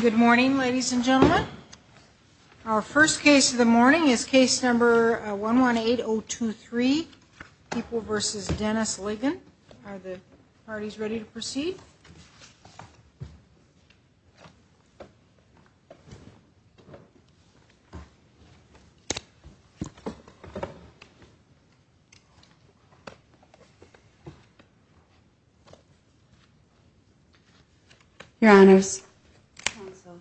Good morning, ladies and gentlemen. Our first case of the morning is case number 118023, People v. Dennis Ligon. Are the parties ready to proceed? Your Honors, Counsel,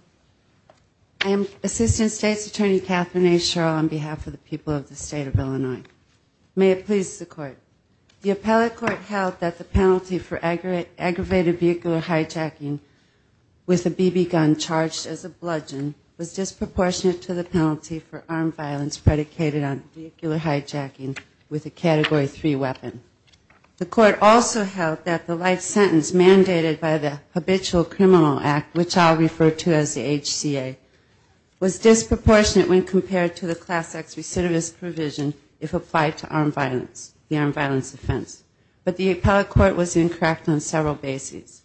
I am Assistant State's Attorney Katherine A. Sherrill on behalf of the people of the State of Illinois. May it please the Court. The appellate court held that the penalty for aggravated vehicular hijacking with a BB gun charged as a bludgeon was disqualified. It was disproportionate to the penalty for armed violence predicated on vehicular hijacking with a Category 3 weapon. The Court also held that the life sentence mandated by the Habitual Criminal Act, which I'll refer to as the HCA, was disproportionate when compared to the Class X recidivist provision if applied to armed violence, the armed violence offense. But the appellate court was incorrect on several bases.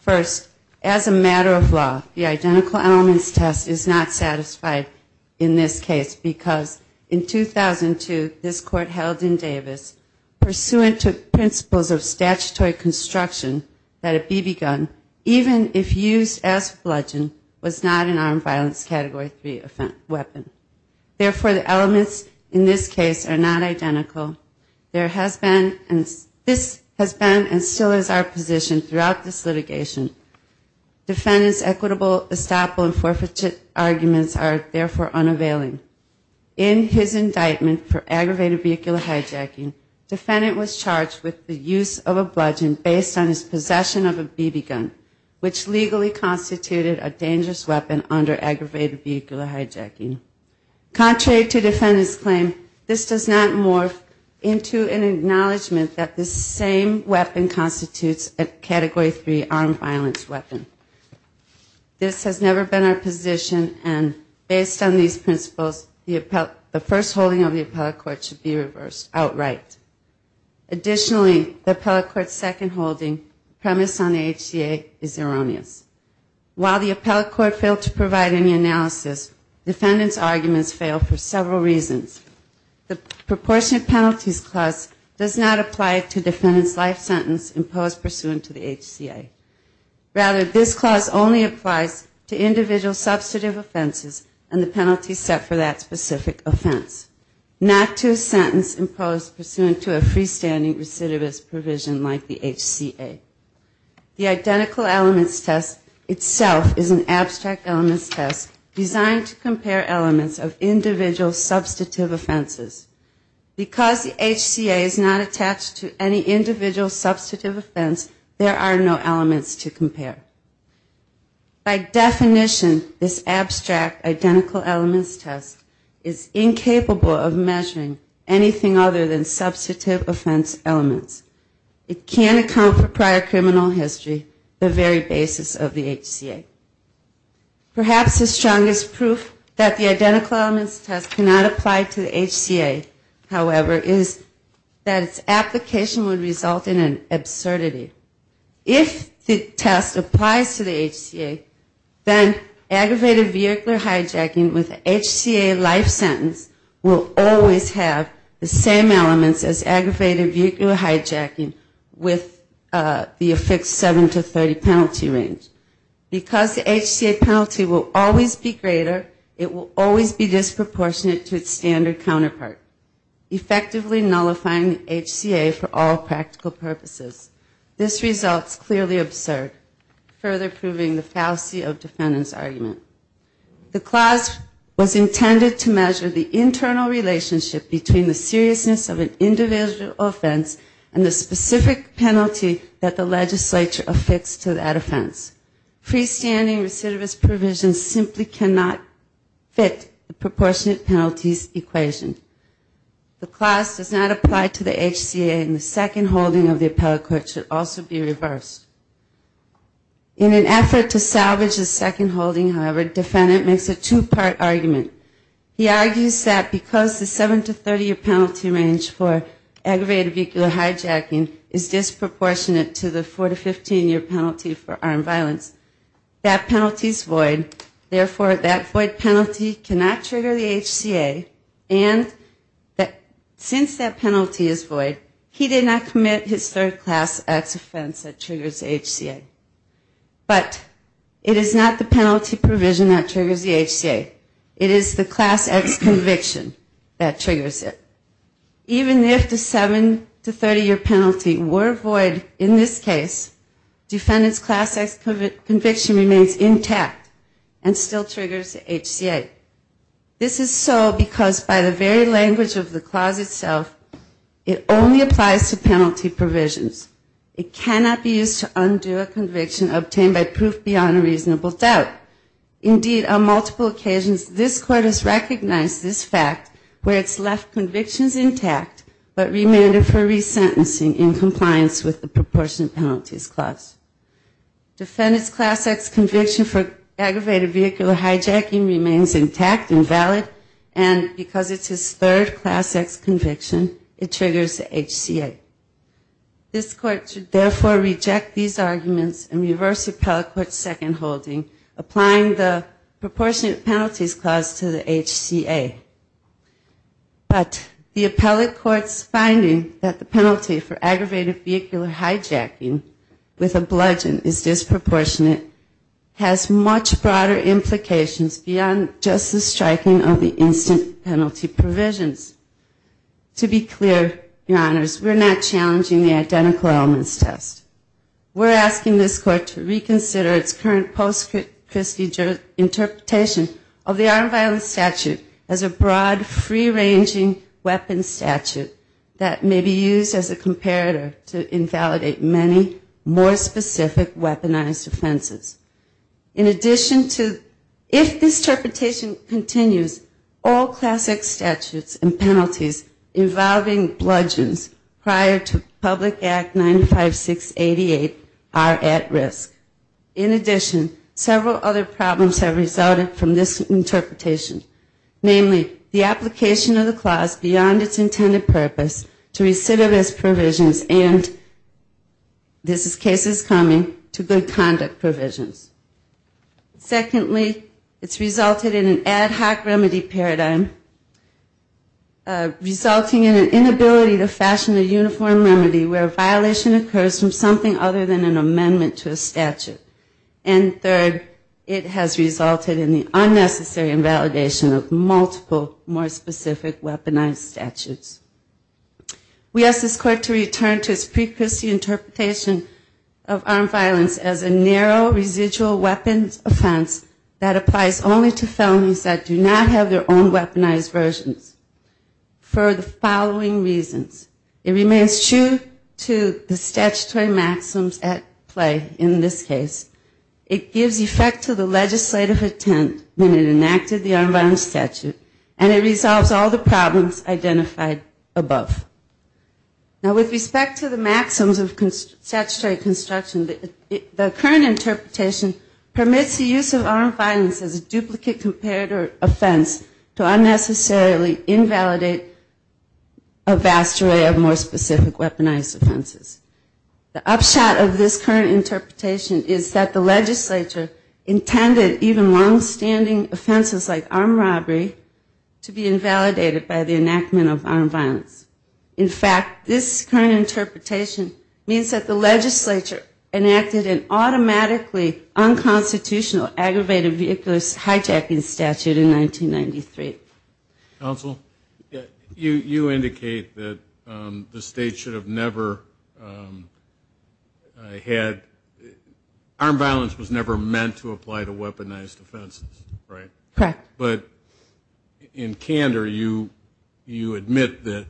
First, as a matter of law, the identical elements test is not satisfactory. In this case, because in 2002, this Court held in Davis, pursuant to principles of statutory construction, that a BB gun, even if used as bludgeon, was not an armed violence Category 3 weapon. Therefore, the elements in this case are not identical. This has been and still is our position throughout this litigation. Defendants' equitable estoppel and forfeited arguments are not valid. In his indictment for aggravated vehicular hijacking, defendant was charged with the use of a bludgeon based on his possession of a BB gun, which legally constituted a dangerous weapon under aggravated vehicular hijacking. Contrary to defendant's claim, this does not morph into an acknowledgment that this same weapon constitutes a Category 3 armed violence weapon. This has never been our position, and based on these principles, the first holding of the appellate court should be reversed outright. Additionally, the appellate court's second holding, premised on the HCA, is erroneous. While the appellate court failed to provide any analysis, defendant's arguments failed for several reasons. The proportionate penalties clause does not apply to defendant's life sentence imposed pursuant to the HCA. Rather, this clause only applies to individual substantive offenses and the penalties set for that specific offense, not to a sentence imposed pursuant to a freestanding recidivist provision like the HCA. The identical elements test itself is an abstract elements test designed to compare elements of individual substantive offenses. Because the HCA is not attached to any individual substantive offense, there are no elements to compare. By definition, this abstract identical elements test is incapable of measuring anything other than substantive offense elements. It can't account for prior criminal history, the very basis of the HCA. Perhaps the strongest proof that the HCA is not attached to any individual substantive offense is that its application would result in an absurdity. If the test applies to the HCA, then aggravated vehicular hijacking with HCA life sentence will always have the same elements as aggravated vehicular hijacking with the affixed 7 to 30 penalty range. Because the HCA penalty will always be greater, it will always be disproportionate to its standard counterpart, effectively nullifying the HCA for all practical purposes. This results clearly absurd, further proving the fallacy of defendant's argument. The clause was intended to measure the internal relationship between the seriousness of an individual offense and the specific penalty that the legislature affixed to that offense. Freestanding recidivist provision simply cannot fit the proportionate penalties equation. The clause does not apply to the HCA and the second holding of the appellate court should also be reversed. In an effort to salvage the second holding, however, defendant makes a two-part argument. He argues that because the 7 to 30 year penalty range for aggravated vehicular hijacking is void, therefore that void penalty cannot trigger the HCA, and since that penalty is void, he did not commit his third class X offense that triggers the HCA. But it is not the penalty provision that triggers the HCA. It is the class X conviction that triggers it. Even if the 7 to 30 year penalty were void in this case, defendant's class X conviction remains invalid. It is the class X conviction that remains intact and still triggers the HCA. This is so because by the very language of the clause itself, it only applies to penalty provisions. It cannot be used to undo a conviction obtained by proof beyond a reasonable doubt. Indeed, on multiple occasions, this court has recognized this fact where it's left convictions intact, but remanded for resentencing in compliance with the proportionate penalties clause. Defendant's class X conviction for the aggravated vehicular hijacking remains intact and valid, and because it's his third class X conviction, it triggers the HCA. This court should therefore reject these arguments and reverse appellate court's second holding, applying the proportionate penalties clause to the HCA. But the appellate court's finding that the penalty for aggravated vehicular hijacking with a bludgeon is disproportionate has much broader implications beyond just the striking of the instant penalty provisions. To be clear, your honors, we're not challenging the identical elements test. We're asking this court to reconsider its current post-Christie interpretation of the armed violence statute as a broad, free-ranging weapon statute that may be used as a comparator to invalidate many more specific weaponized offenses. In addition to, if this interpretation continues, all class X statutes and penalties involving bludgeons prior to Public Act 95688 are at risk. In addition, several other problems have resulted from this interpretation, namely the application of the clause beyond its intended purpose to recidivist provisions and, this is cases coming, to good conduct provisions. Secondly, it's resulted in an ad hoc remedy paradigm, resulting in an inability to fashion a uniform remedy where violation occurs from something other than an amendment to a statute. And third, it has resulted in the unnecessary invalidation of multiple more specific weaponized statutes. We ask this court to return to its pre-Christie interpretation of armed violence as a narrow, residual weapons offense that applies only to felonies that do not have their own weaponized versions for the following reasons. It remains true to the statutory maxims at play in this case. It gives effect to the legislative intent when it enacts a weaponized statute, and it resolves all the problems identified above. Now, with respect to the maxims of statutory construction, the current interpretation permits the use of armed violence as a duplicate comparator offense to unnecessarily invalidate a vast array of more specific weaponized offenses. The upshot of this current interpretation is that the legislature intended even long-standing offenses like armed robbery to be invalidated by the enactment of armed violence. In fact, this current interpretation means that the legislature enacted an automatically unconstitutional aggravated vehiculous hijacking statute in 1993. You indicate that the state should have never had armed violence was never meant to apply to weaponized offenses, right? Correct. But in candor, you admit that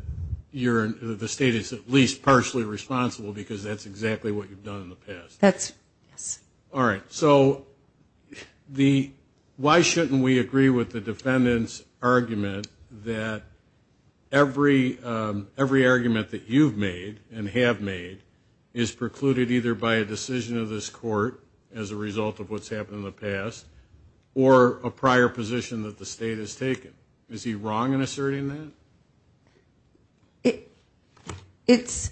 the state is at least partially responsible because that's exactly what you've done in the past. Yes. All right. So why shouldn't we agree with the defendant's argument that every argument that you've made and have made is precluded either by a decision of this court as a result of what's happened in the past, or a prior position of the state has taken? Is he wrong in asserting that? It's,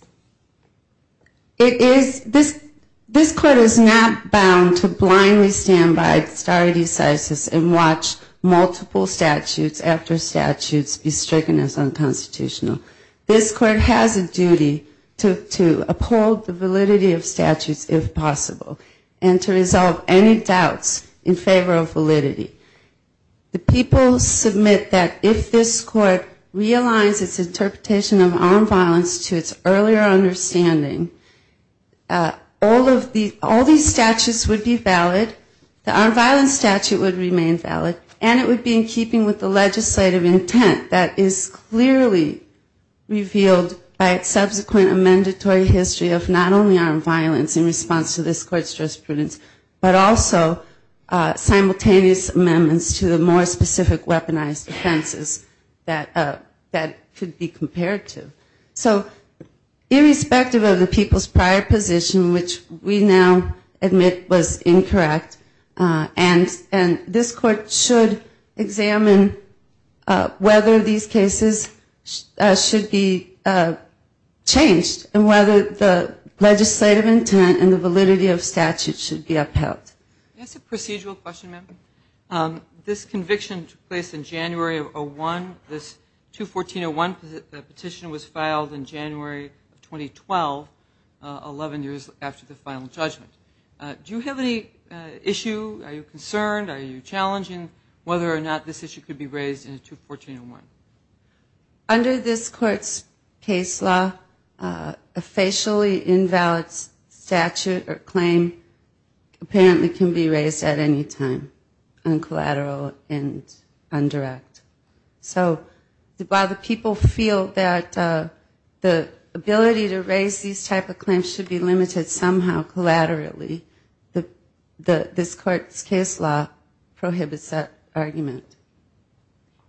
it is, this court is not bound to blindly stand by stare decisis and watch multiple statutes after statutes be stricken as unconstitutional. This court has a duty to uphold the validity of statutes if possible, and to resolve any inconsistencies in the validity. The people submit that if this court realizes its interpretation of armed violence to its earlier understanding, all of these statutes would be valid, the armed violence statute would remain valid, and it would be in keeping with the legislative intent that is clearly revealed by its subsequent amendatory history of not only armed violence in the past, but also simultaneous amendments to the more specific weaponized offenses that could be compared to. So irrespective of the people's prior position, which we now admit was incorrect, and this court should examine whether these cases should be changed, and whether the legislative intent and the validity of statutes should be held. That's a procedural question, ma'am. This conviction took place in January of 2001, this 214-01 petition was filed in January of 2012, 11 years after the final judgment. Do you have any issue, are you concerned, are you challenging, whether or not this issue could be raised in 214-01? Under this court's case law, a facially invalid statute or claim apparently can be raised at any time, uncollateral and indirect. So while the people feel that the ability to raise these type of claims should be limited somehow collaterally, this court's case law prohibits that argument.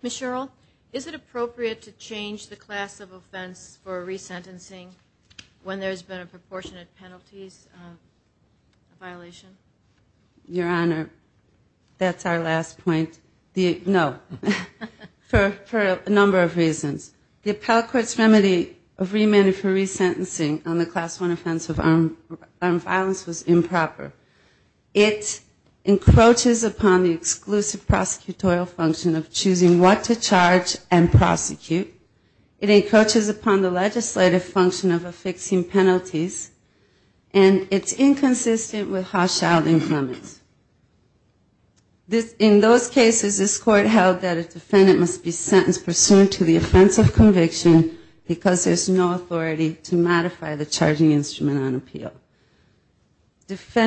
Ms. Sherrill, is it appropriate to change the class of offense for resentencing when there's been a proportionate penalties violation? Your Honor, that's our last point. No. For a number of reasons. The appellate court's remedy of remand for resentencing on the class 1 offense of armed violence was improper. It encroaches upon the exclusive prosecutorial function of choosing what to charge and prosecute. It encroaches upon the legislative function of affixing penalties. And it's inconsistent with Hodge-Sheldon's limits. In those cases, this court held that a defendant must be sentenced pursuant to the offense of conviction because there's no authority to modify the charging instrument on appeal. It's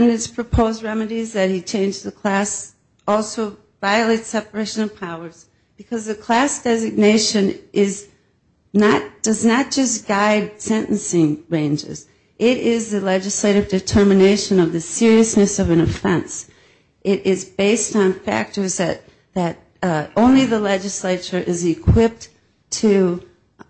a violation of powers because the class designation does not just guide sentencing ranges. It is the legislative determination of the seriousness of an offense. It is based on factors that only the legislature is equipped to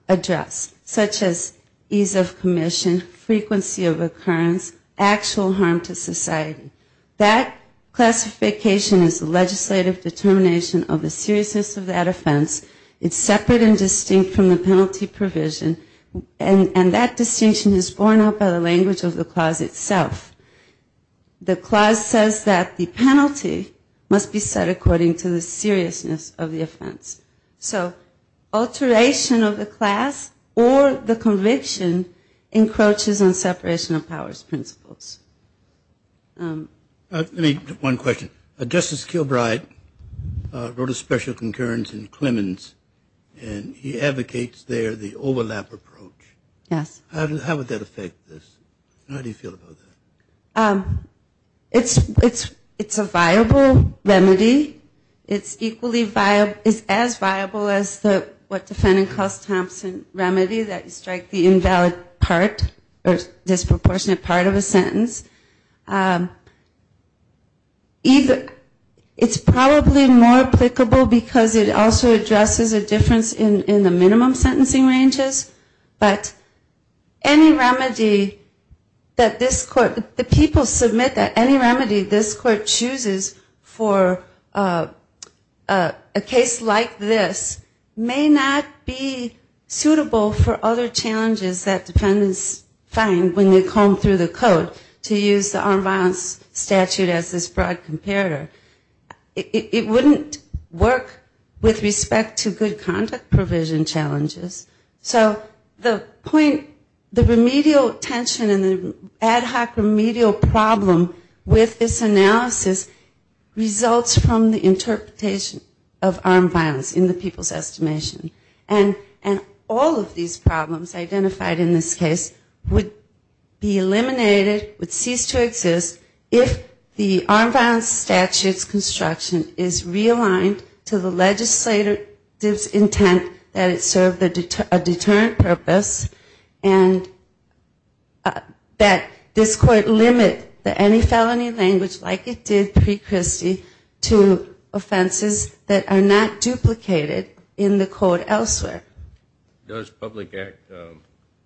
address, such as ease of commission, frequency of occurrence, actual harm to society. That classification is the seriousness of that offense. It's separate and distinct from the penalty provision. And that distinction is borne out by the language of the clause itself. The clause says that the penalty must be set according to the seriousness of the offense. So alteration of the class or the conviction encroaches on separation of powers principles. Let me get one question. Justice Kilbride wrote a special concurrence in Clemens, and he advocates there the overlap approach. How would that affect this? How do you feel about that? It's a viable remedy. It's equally viable. It's as viable as what defendant calls Thompson remedy, that you strike the defendant's defense. It's probably more applicable because it also addresses a difference in the minimum sentencing ranges. But any remedy that this court, the people submit that any remedy this court chooses for a case like this may not be adequate to use the armed violence statute as this broad comparator. It wouldn't work with respect to good conduct provision challenges. So the point, the remedial tension and the ad hoc remedial problem with this analysis results from the interpretation of armed violence in the people's estimation. And all of these problems identified in this case would be eliminated, would cease to exist, if the armed violence statute's construction is realigned to the legislator's intent that it serve a deterrent purpose and that this court limit any felony language like it did pre-Christie to offenses that are not duplicated in the code elsewhere. Does Public Act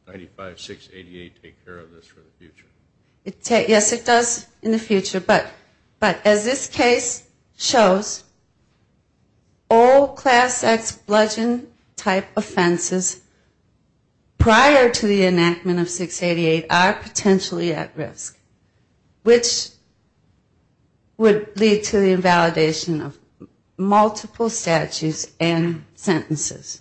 95-688 take care of this for the future? Yes, it does in the future. But as this case shows, all class X bludgeon type offenses prior to the enactment of 688 are potentially at risk, which would lead to the invalidation of multiple statutes and sentences.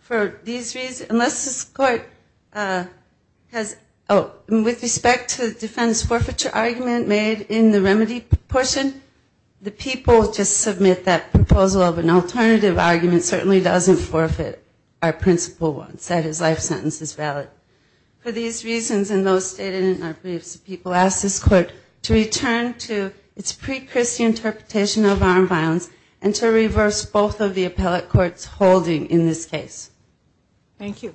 For these reasons, unless this court has, oh, with respect to the defense forfeiture argument made in the remedy portion, the people just submit that proposal of an alternative argument certainly doesn't forfeit our principal one, said his life sentence is valid. For these reasons and those stated in our briefs, the people ask this court to return to its pre-Christie interpretation of armed violence and to reverse both of the appellate courts holding in this case. Thank you.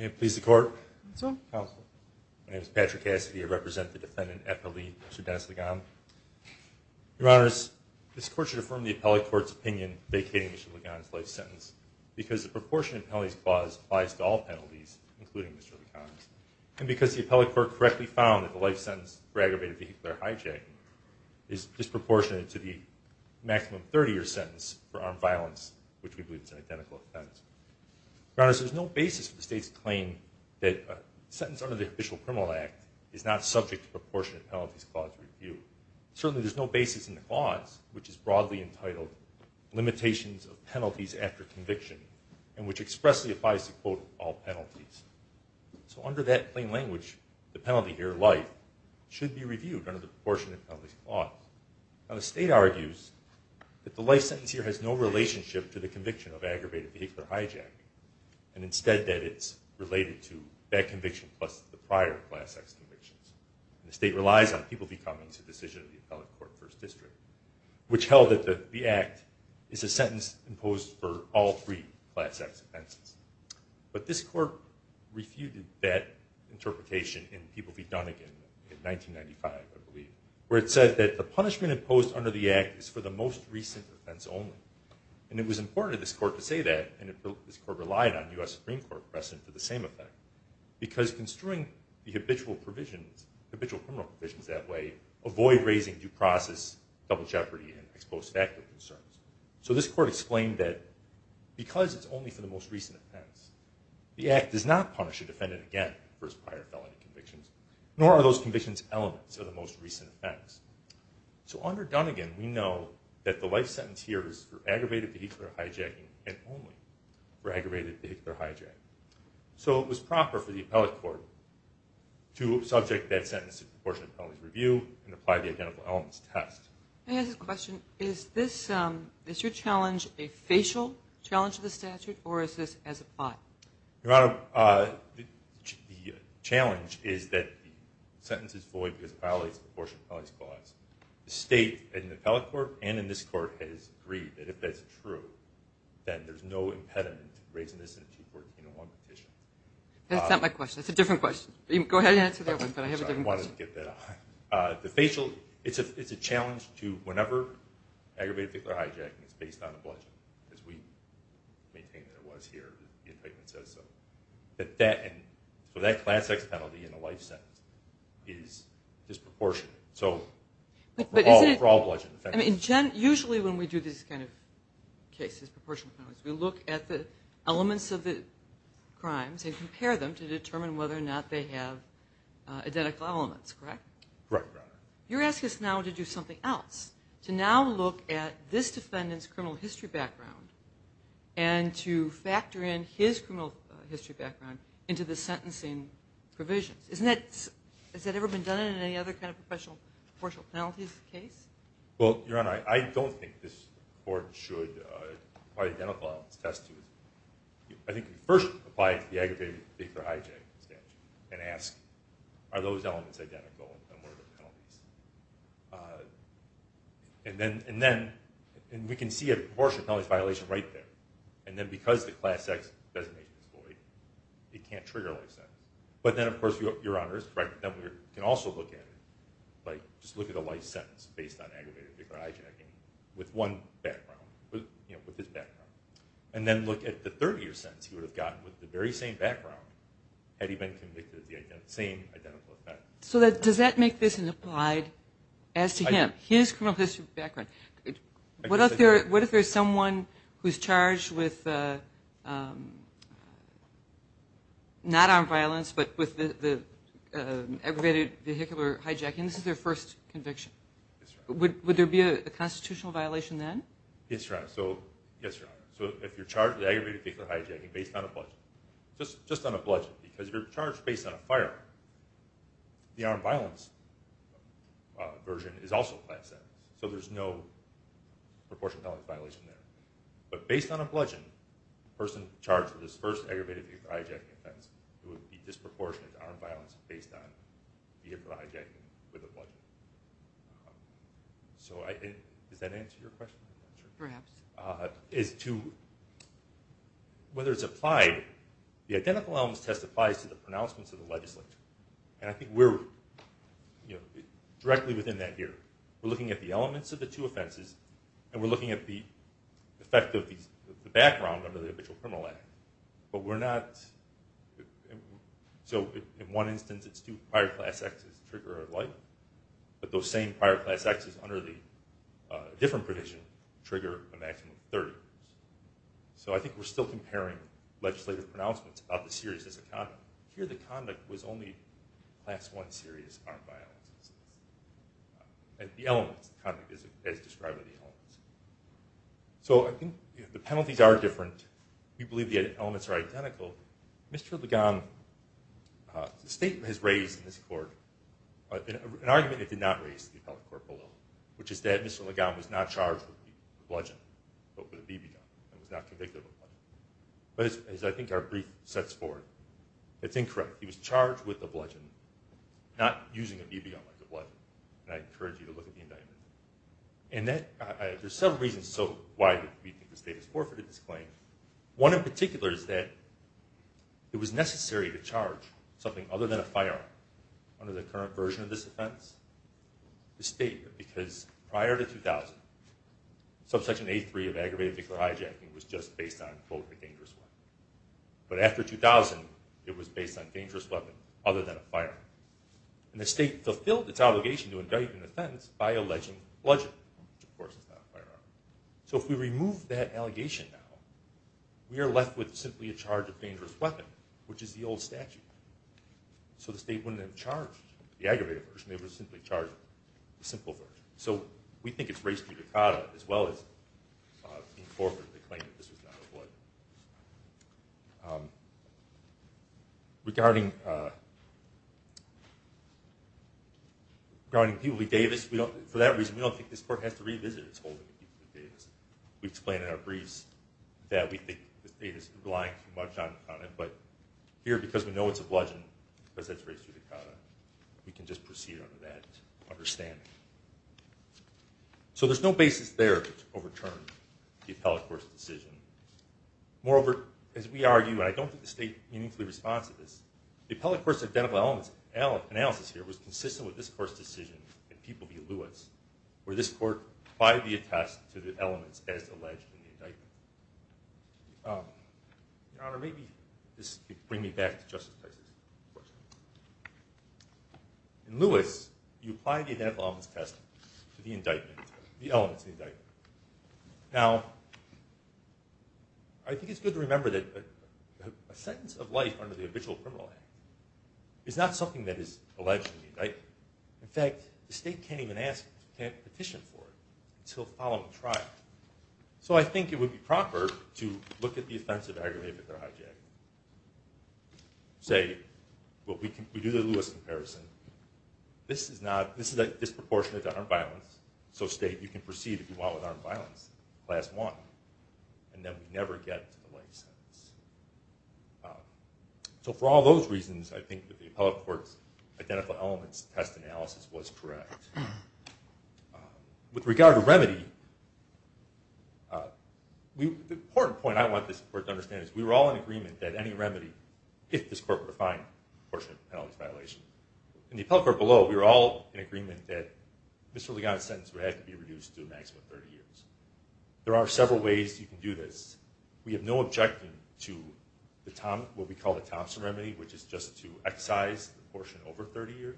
Your Honors, this court should affirm the appellate court's opinion vacating Mr. Ligon's life sentence because the proportionate penalties clause applies to all penalties, including Mr. Ligon's, and because the appellate court correctly found that the life sentence for aggravated vehicular hijacking is disproportionate to the maximum 30-year sentence for armed violence, which we believe is an identical offense. Your Honors, there's no basis for the state's claim that a sentence under the Official Criminal Act is not subject to proportionate penalties clause review. Certainly there's no basis in the clause, which is broadly entitled Limitations of Penalties After Conviction, and which expressly applies to, quote, all penalties. So under that plain language, the penalty here, life, should be reviewed under the proportionate penalties clause. Now the state argues that the life sentence here has no relationship to the conviction of aggravated vehicular hijacking, and instead that it's related to that conviction plus the prior class X convictions. The state relies on people-be-cumming as a decision of the appellate court first district, which held that the act is a sentence imposed for all three class X offenses. But this court refuted that interpretation in People-Be-Done-Again in 1995, I believe, where it said that the punishment imposed under the act is for the most recent offense only. And it was important to this court to say that, and this court relied on the abitual provisions, abitual criminal provisions that way, avoid raising due process, double jeopardy, and ex post facto concerns. So this court explained that because it's only for the most recent offense, the act does not punish a defendant again for his prior felony convictions, nor are those convictions elements of the most recent offense. So under Done-Again, we know that the life sentence here is for aggravated vehicular hijacking and only for aggravated vehicular hijacking. So it was proper for the appellate court to subject that sentence to proportionate penalties review and apply the identical elements test. Is your challenge a facial challenge to the statute, or is this as applied? Your Honor, the challenge is that the sentence is void because it violates the proportionate penalties clause. The state, in the appellate court and in this court, has agreed that if that's true, then there's no reason to raise this in a 214-101 petition. That's not my question. That's a different question. Go ahead and answer that one, but I have a different question. It's a challenge to whenever aggravated vehicular hijacking is based on a bludgeon, as we maintain that it was here, as the indictment says so. So that class X penalty in the life sentence is disproportionate. So for all bludgeon offenses. Usually when we do these kinds of cases, we look at the elements of the crimes and compare them to determine whether or not they have identical elements, correct? You're asking us now to do something else, to now look at this defendant's criminal history background and to factor in his criminal history background into the sentencing provisions. Has that ever been done in any other kind of proportional penalties case? Well, Your Honor, I don't think this court should identify what it's attested to. I think we first apply it to the aggravated vehicular hijacking statute and ask, are those elements identical and what are the penalties? And then we can see a proportional penalties violation right there. And then because the class X designation is void, it can't trigger a life sentence. But then of course, Your Honor is correct, then we can also look at it, just look at a life sentence based on aggravated vehicular hijacking with one background, with his background. And then look at the 30 year sentence he would have gotten with the very same background had he been convicted of the same identical offense. So does that make this an applied, as to him, his criminal history background? What if there's someone who's charged with not armed violence, but with the aggravated vehicular hijacking? This is their first conviction. Would there be a constitutional violation then? Yes, Your Honor. So if you're charged with aggravated vehicular hijacking based on a bludgeon, just on a bludgeon, because you're charged based on a firearm, the armed violence version is also class X. So there's no proportional violation there. But based on a bludgeon, the person charged with his first aggravated vehicular hijacking offense would be disproportionate to armed violence based on vehicular hijacking with a bludgeon. Does that answer your question? Perhaps. Whether it's applied, the identical elements testifies to the pronouncements of the legislature. And I think we're, you know, directly within that here. We're looking at the elements of the two offenses, and we're looking at the effect of the background under the Individual Criminal Act. So in one instance it's two prior class X's that trigger a life, but those same prior class X's under the different provision trigger a maximum of 30 years. So I think we're still comparing legislative pronouncements of the series as a conduct. Here the conduct was only class I serious armed violence. And the elements, the conduct as described by the elements. So I think the penalties are different. We believe the elements are identical. Mr. Legon, the state has raised in this court an argument it did not raise in the appellate court below, which is that Mr. Legon was not charged with a bludgeon, but with a BB gun, and was not convicted of a bludgeon. But as I think our brief sets forth, it's incorrect. He was charged with a bludgeon, not using a BB gun like a bludgeon. And I encourage you to look at the indictment. One in particular is that it was necessary to charge something other than a firearm under the current version of this offense to state it, because prior to 2000, subsection A3 of aggravated victim hijacking was just based on, quote, a dangerous weapon. But after 2000, it was based on a dangerous weapon other than a firearm. And the state fulfilled its obligation to indict an offense by alleging bludgeon, which of course is not a firearm. So if we remove that allegation now, we are left with simply a charge of dangerous weapon, which is the old statute. So the state wouldn't have charged the aggravated version. They would have simply charged the simple version. So we think it's race to Dakota as well as being forfeited the claim that this was not a bludgeon. Regarding Peabody Davis, for that reason, we don't think this court has to revisit its holding of Peabody Davis. We explained in our briefs that we think the state is relying too much on it, but here, because we know it's a bludgeon, because it's race to Dakota, we can just proceed under that understanding. So there's no basis there to overturn the appellate court's decision. Moreover, as we argue, and I don't think the state meaningfully responds to this, the appellate court's identical elements analysis here was consistent with this court's decision in Peabody Lewis, where this court applied the attest to the elements as alleged in the indictment. Your Honor, maybe this could bring me back to Justice Dyson. In Lewis, you apply the identical elements test to the elements in the indictment. Now, I think it's good to remember that a sentence of life under the habitual criminal act is not something that is alleged in the indictment. In fact, the state can't even petition for it until following trial. So I think it would be proper to look at the offensive argument that they're hijacking. Say, we do the Lewis comparison. This is disproportionate to armed violence, so state, you can proceed if you want with armed violence, class one, and then we never get to the life sentence. So for all those reasons, I think that the appellate court's identical elements test analysis was correct. With regard to remedy, the important point I want this court to understand is we were all in agreement that any remedy, if this court were to find a portion of the penalty violation, in the appellate court below, we were all in agreement that Mr. Ligon's sentence would have to be reduced to a maximum of 30 years. There are several ways you can do this. We have no objection to what we call the Thompson remedy, which is just to excise the portion over 30 years,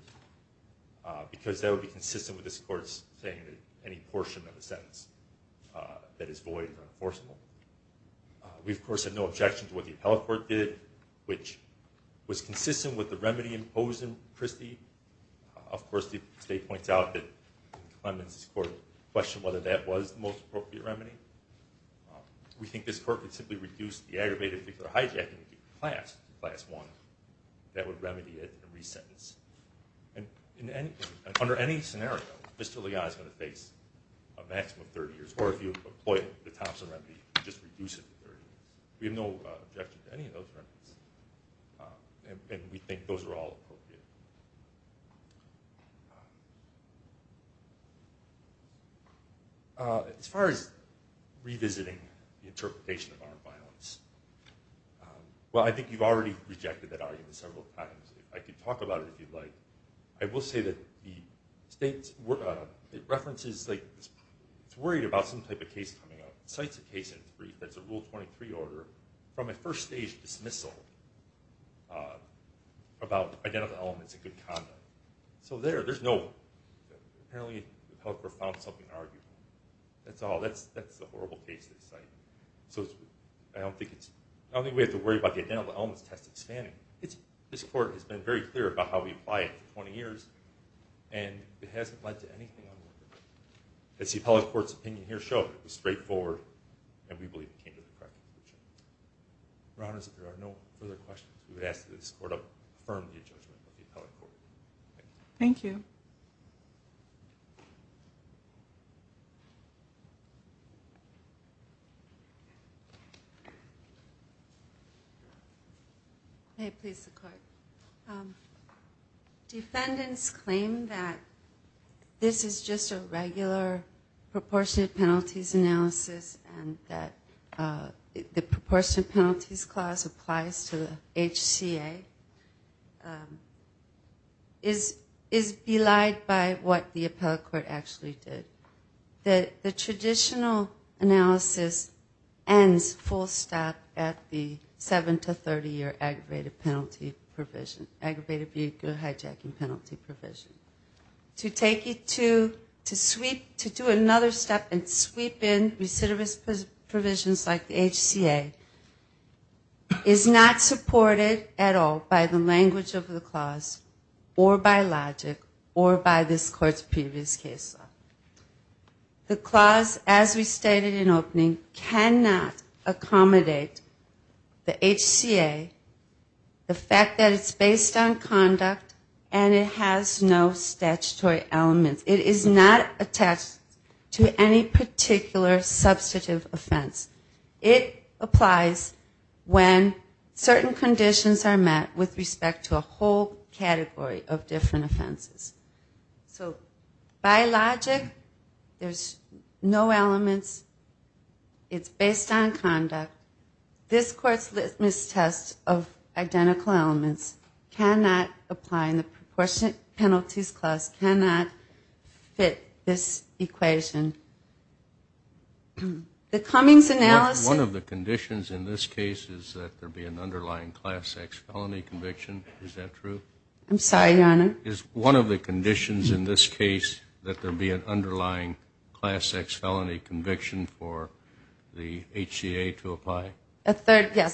because that would be consistent with this court's saying that any portion of the sentence that is void or enforceable. We, of course, have no objection to what the appellate court did, but we, of course, the state points out that Clemens' court questioned whether that was the most appropriate remedy. We think this court could simply reduce the aggravated victim of hijacking to class, class one. That would remedy it and re-sentence. Under any scenario, Mr. Ligon is going to face a maximum of 30 years, or if you employ the Thompson remedy, just reduce it to 30. We have no objection to any of those remedies, and we think those are all appropriate. As far as revisiting the interpretation of armed violence, well, I think you've already rejected that argument several times. I could talk about it if you'd like. It's worried about some type of case coming up. It cites a case in its brief that's a Rule 23 order from a first-stage dismissal about identical elements in good conduct. Apparently the appellate court found something to argue with. That's all. That's the horrible case that's cited. I don't think we have to worry about the identical elements test expanding. This court has been very clear about how we apply it for 20 years, and it hasn't led to anything. It's the appellate court's opinion. It was straightforward, and we believe it came to the correct conclusion. Your Honor, if there are no further questions, we would ask that this Court affirm the judgment of the appellate court. Thank you. Defendants claim that this is just a regular proportionate penalties analysis and that the proportionate penalties clause applies to the HCA. This is belied by what the appellate court actually did. The traditional analysis ends full stop at the 7 to 30 year aggravated vehicle hijacking penalty provision. To do another step and sweep in recidivist provisions like the HCA is not supported at all by the language of the clause. The clause, as we stated in opening, cannot accommodate the HCA, the fact that it's based on conduct and it has no statutory elements. It is not attached to any particular substantive offense. It applies when certain conditions are met with respect to a whole category of offenses. So by logic, there's no elements, it's based on conduct. This Court's mis-test of identical elements cannot apply, and the proportionate penalties clause cannot fit this equation. One of the conditions in this case is that there be an underlying class X felony conviction. Is that true? A third, yes,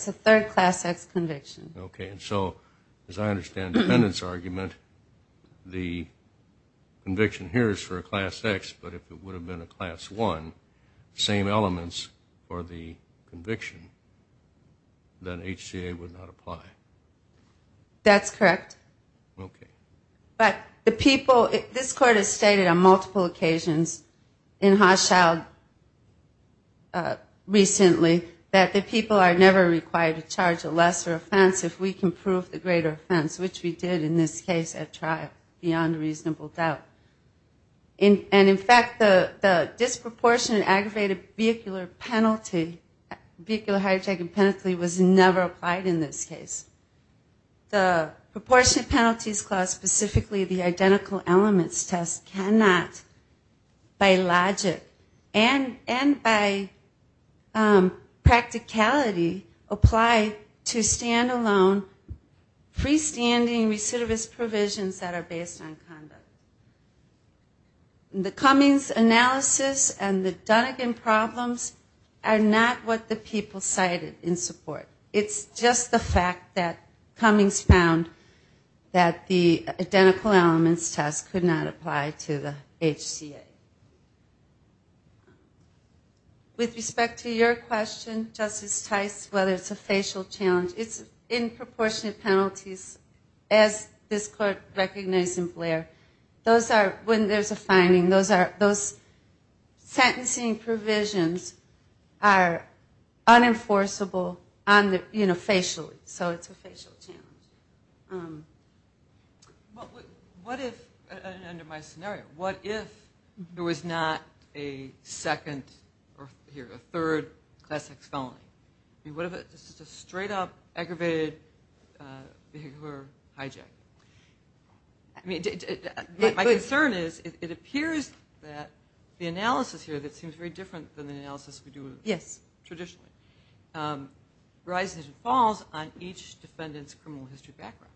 a third class X conviction. Okay, and so as I understand the defendant's argument, the conviction here is for a class X, but if it would have been a class 1, same elements for the conviction, then HCA would not apply. That's correct, but the people, this Court has stated on multiple occasions in Hochschild recently, that the people are never required to charge a lesser offense if we can prove the greater offense, which we did in this case at trial, beyond reasonable doubt. And in fact, the disproportionate aggravated vehicular penalty, vehicular hijacking penalty, was never applied in this case. The proportionate penalties clause, specifically the identical elements test, cannot, by logic and by practicality, apply to standalone freestanding recidivist provisions that are based on conduct. The Cummings analysis and the Dunnegan problems are not what the people cited in support. It's just the fact that Cummings found that the identical elements test could not apply to the HCA. With respect to your question, Justice Tice, whether it's a facial challenge, it's in proportionate penalties, as this Court recognized in Blair, those are, when there's a finding, those sentencing provisions are unenforceable on the basis of the finding, you know, facially, so it's a facial challenge. What if, under my scenario, what if there was not a second or, here, a third class X felony? I mean, what if it's just a straight up aggravated vehicular hijack? I mean, my concern is, it appears that the analysis here that seems very different than the analysis we do traditionally, rises and falls on each defendant's criminal history background.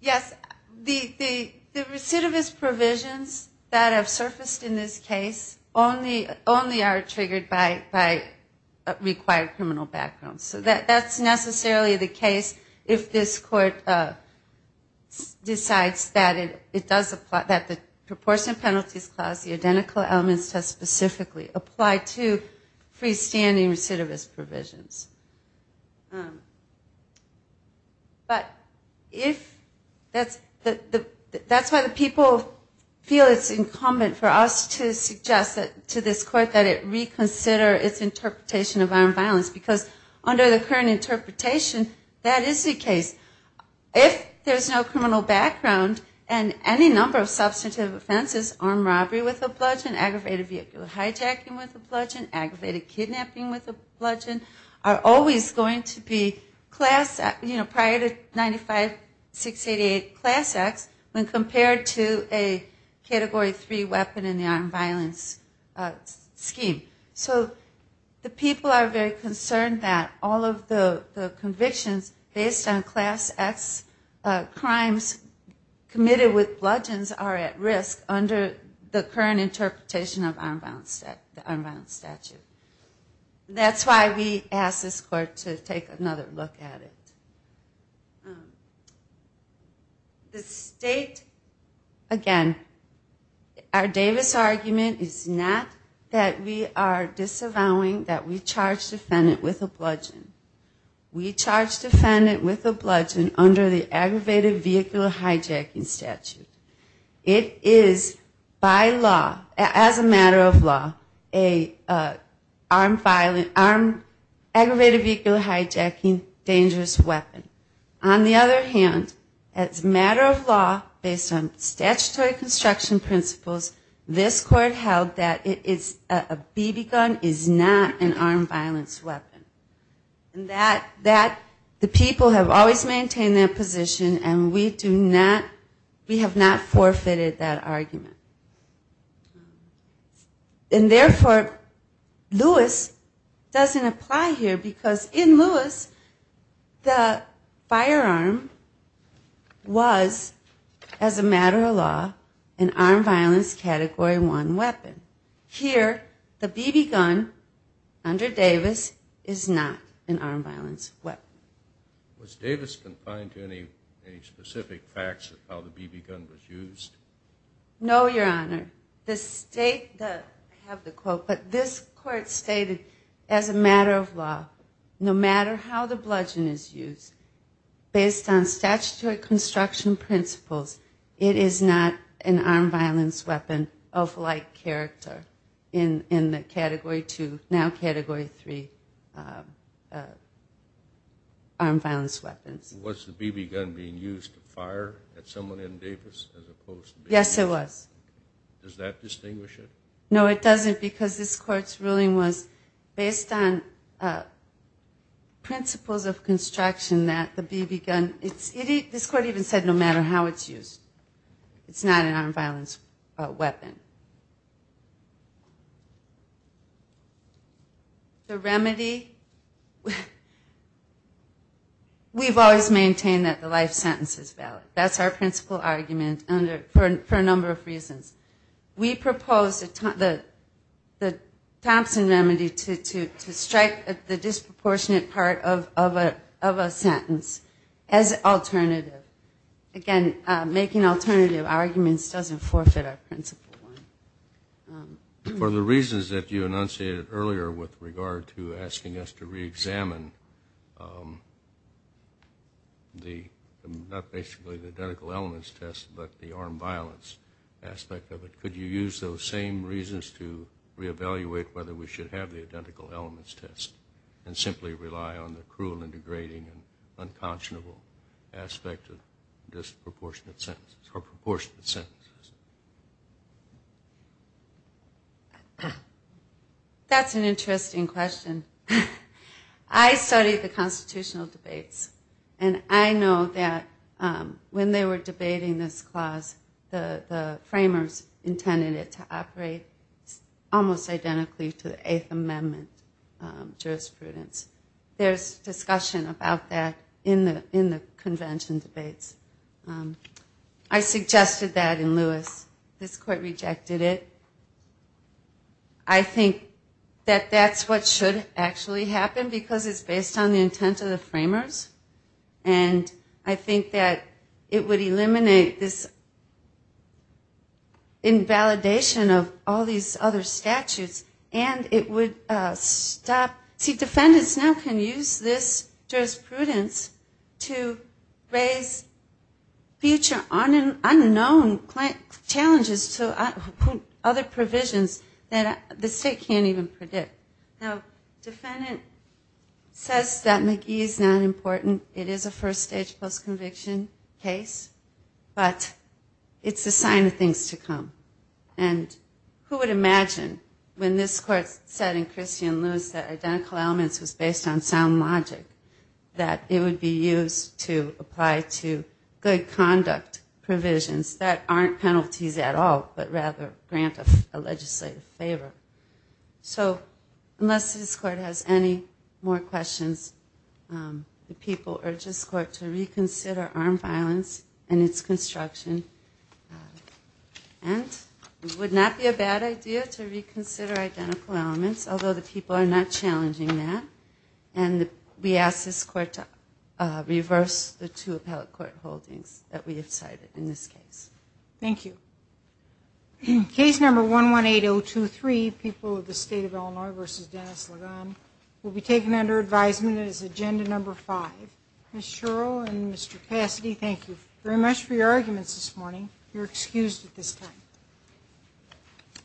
Yes, the recidivist provisions that have surfaced in this case only are triggered by required criminal background. So that's necessarily the case if this Court decides that it does, that the proportionate penalties clause, the identical elements test specifically, apply to freestanding recidivist provisions. But if, that's why the people feel it's incumbent for us to suggest to this Court that it reconsider its interpretation of armed violence, because under the current interpretation, that is the case. If there's no criminal background, and any number of substantive offenses, armed robbery with a bludgeon, aggravated vehicular hijacking with a bludgeon, aggravated kidnapping with a bludgeon, are always going to be class, you know, prior to 95-688 class X when compared to a Category 3 weapon in the armed violence scheme. So the people are very concerned that all of the convictions based on class X crimes committed with bludgeons are at risk under the current interpretation of the armed violence statute. That's why we ask this Court to take another look at it. The state, again, our Davis argument is not that we are disavowing that we charge defendant with a bludgeon. We charge defendant with a bludgeon under the aggravated vehicular hijacking statute. It is by law, as a matter of law, an aggravated vehicular hijacking dangerous weapon. On the other hand, as a matter of law, based on statutory construction principles, this Court held that a BB gun is not an armed violence weapon. And that, the people have always maintained that position and we do not, we have not forfeited that argument. And therefore, Lewis doesn't apply here because in Lewis, the firearm was, as a matter of law, an armed violence Category 1 weapon. Here, the BB gun, under Davis, is not an armed violence weapon. Was Davis confined to any specific facts of how the BB gun was used? No, Your Honor. The state, I have the quote, but this Court stated, as a matter of law, no matter how the bludgeon is used, based on statutory construction principles, it is not an armed violence weapon of like nature. It is not an armed violence weapon of character in the Category 2, now Category 3 armed violence weapons. Was the BB gun being used to fire at someone in Davis as opposed to being used? Yes, it was. Does that distinguish it? No, it doesn't because this Court's ruling was based on principles of construction that the BB gun, this Court even said no matter how it's used. The remedy, we've always maintained that the life sentence is valid. That's our principle argument for a number of reasons. We propose the Thompson remedy to strike the disproportionate part of a sentence as alternative. Again, making alternative arguments doesn't forfeit our principle one. For the reasons that you enunciated earlier with regard to asking us to reexamine the, not basically the identical elements test, but the armed violence aspect of it, could you use those same reasons to reevaluate whether we should have the identical elements test and simply rely on the cruel and degrading and unconscionable aspect of it? That's an interesting question. I studied the constitutional debates and I know that when they were debating this clause, the framers intended it to operate almost identically to the Eighth Amendment jurisprudence. There's discussion about that in the convention debates. I suggested that in Lewis. This Court rejected it. I think that that's what should actually happen because it's based on the intent of the framers and I think that it would eliminate this invalidation of all these other statutes and it would stop, see defendants now can use this jurisprudence to raise future unknown challenges to other provisions that the state can't even predict. Now defendant says that McGee is not important. It is a first stage post conviction case, but it's a sign of things to come. And who would imagine when this Court said in Christian Lewis that identical elements was based on sound logic, that it would be used to apply to good conduct provisions that aren't penalties at all, but rather grant a legislative favor. So unless this Court has any more questions, the people urge this Court to reconsider armed violence and its construction. And it would not be a bad idea to reconsider identical elements, although the people are not challenging that. And we ask this Court to reverse the two appellate court holdings that we have cited in this case. Thank you. Case number 118023, People of the State of Illinois v. Dennis Ligon, will be taken under advisement as agenda number five. Ms. Shuro and Mr. Cassidy, thank you very much for your arguments this morning. You're excused at this time.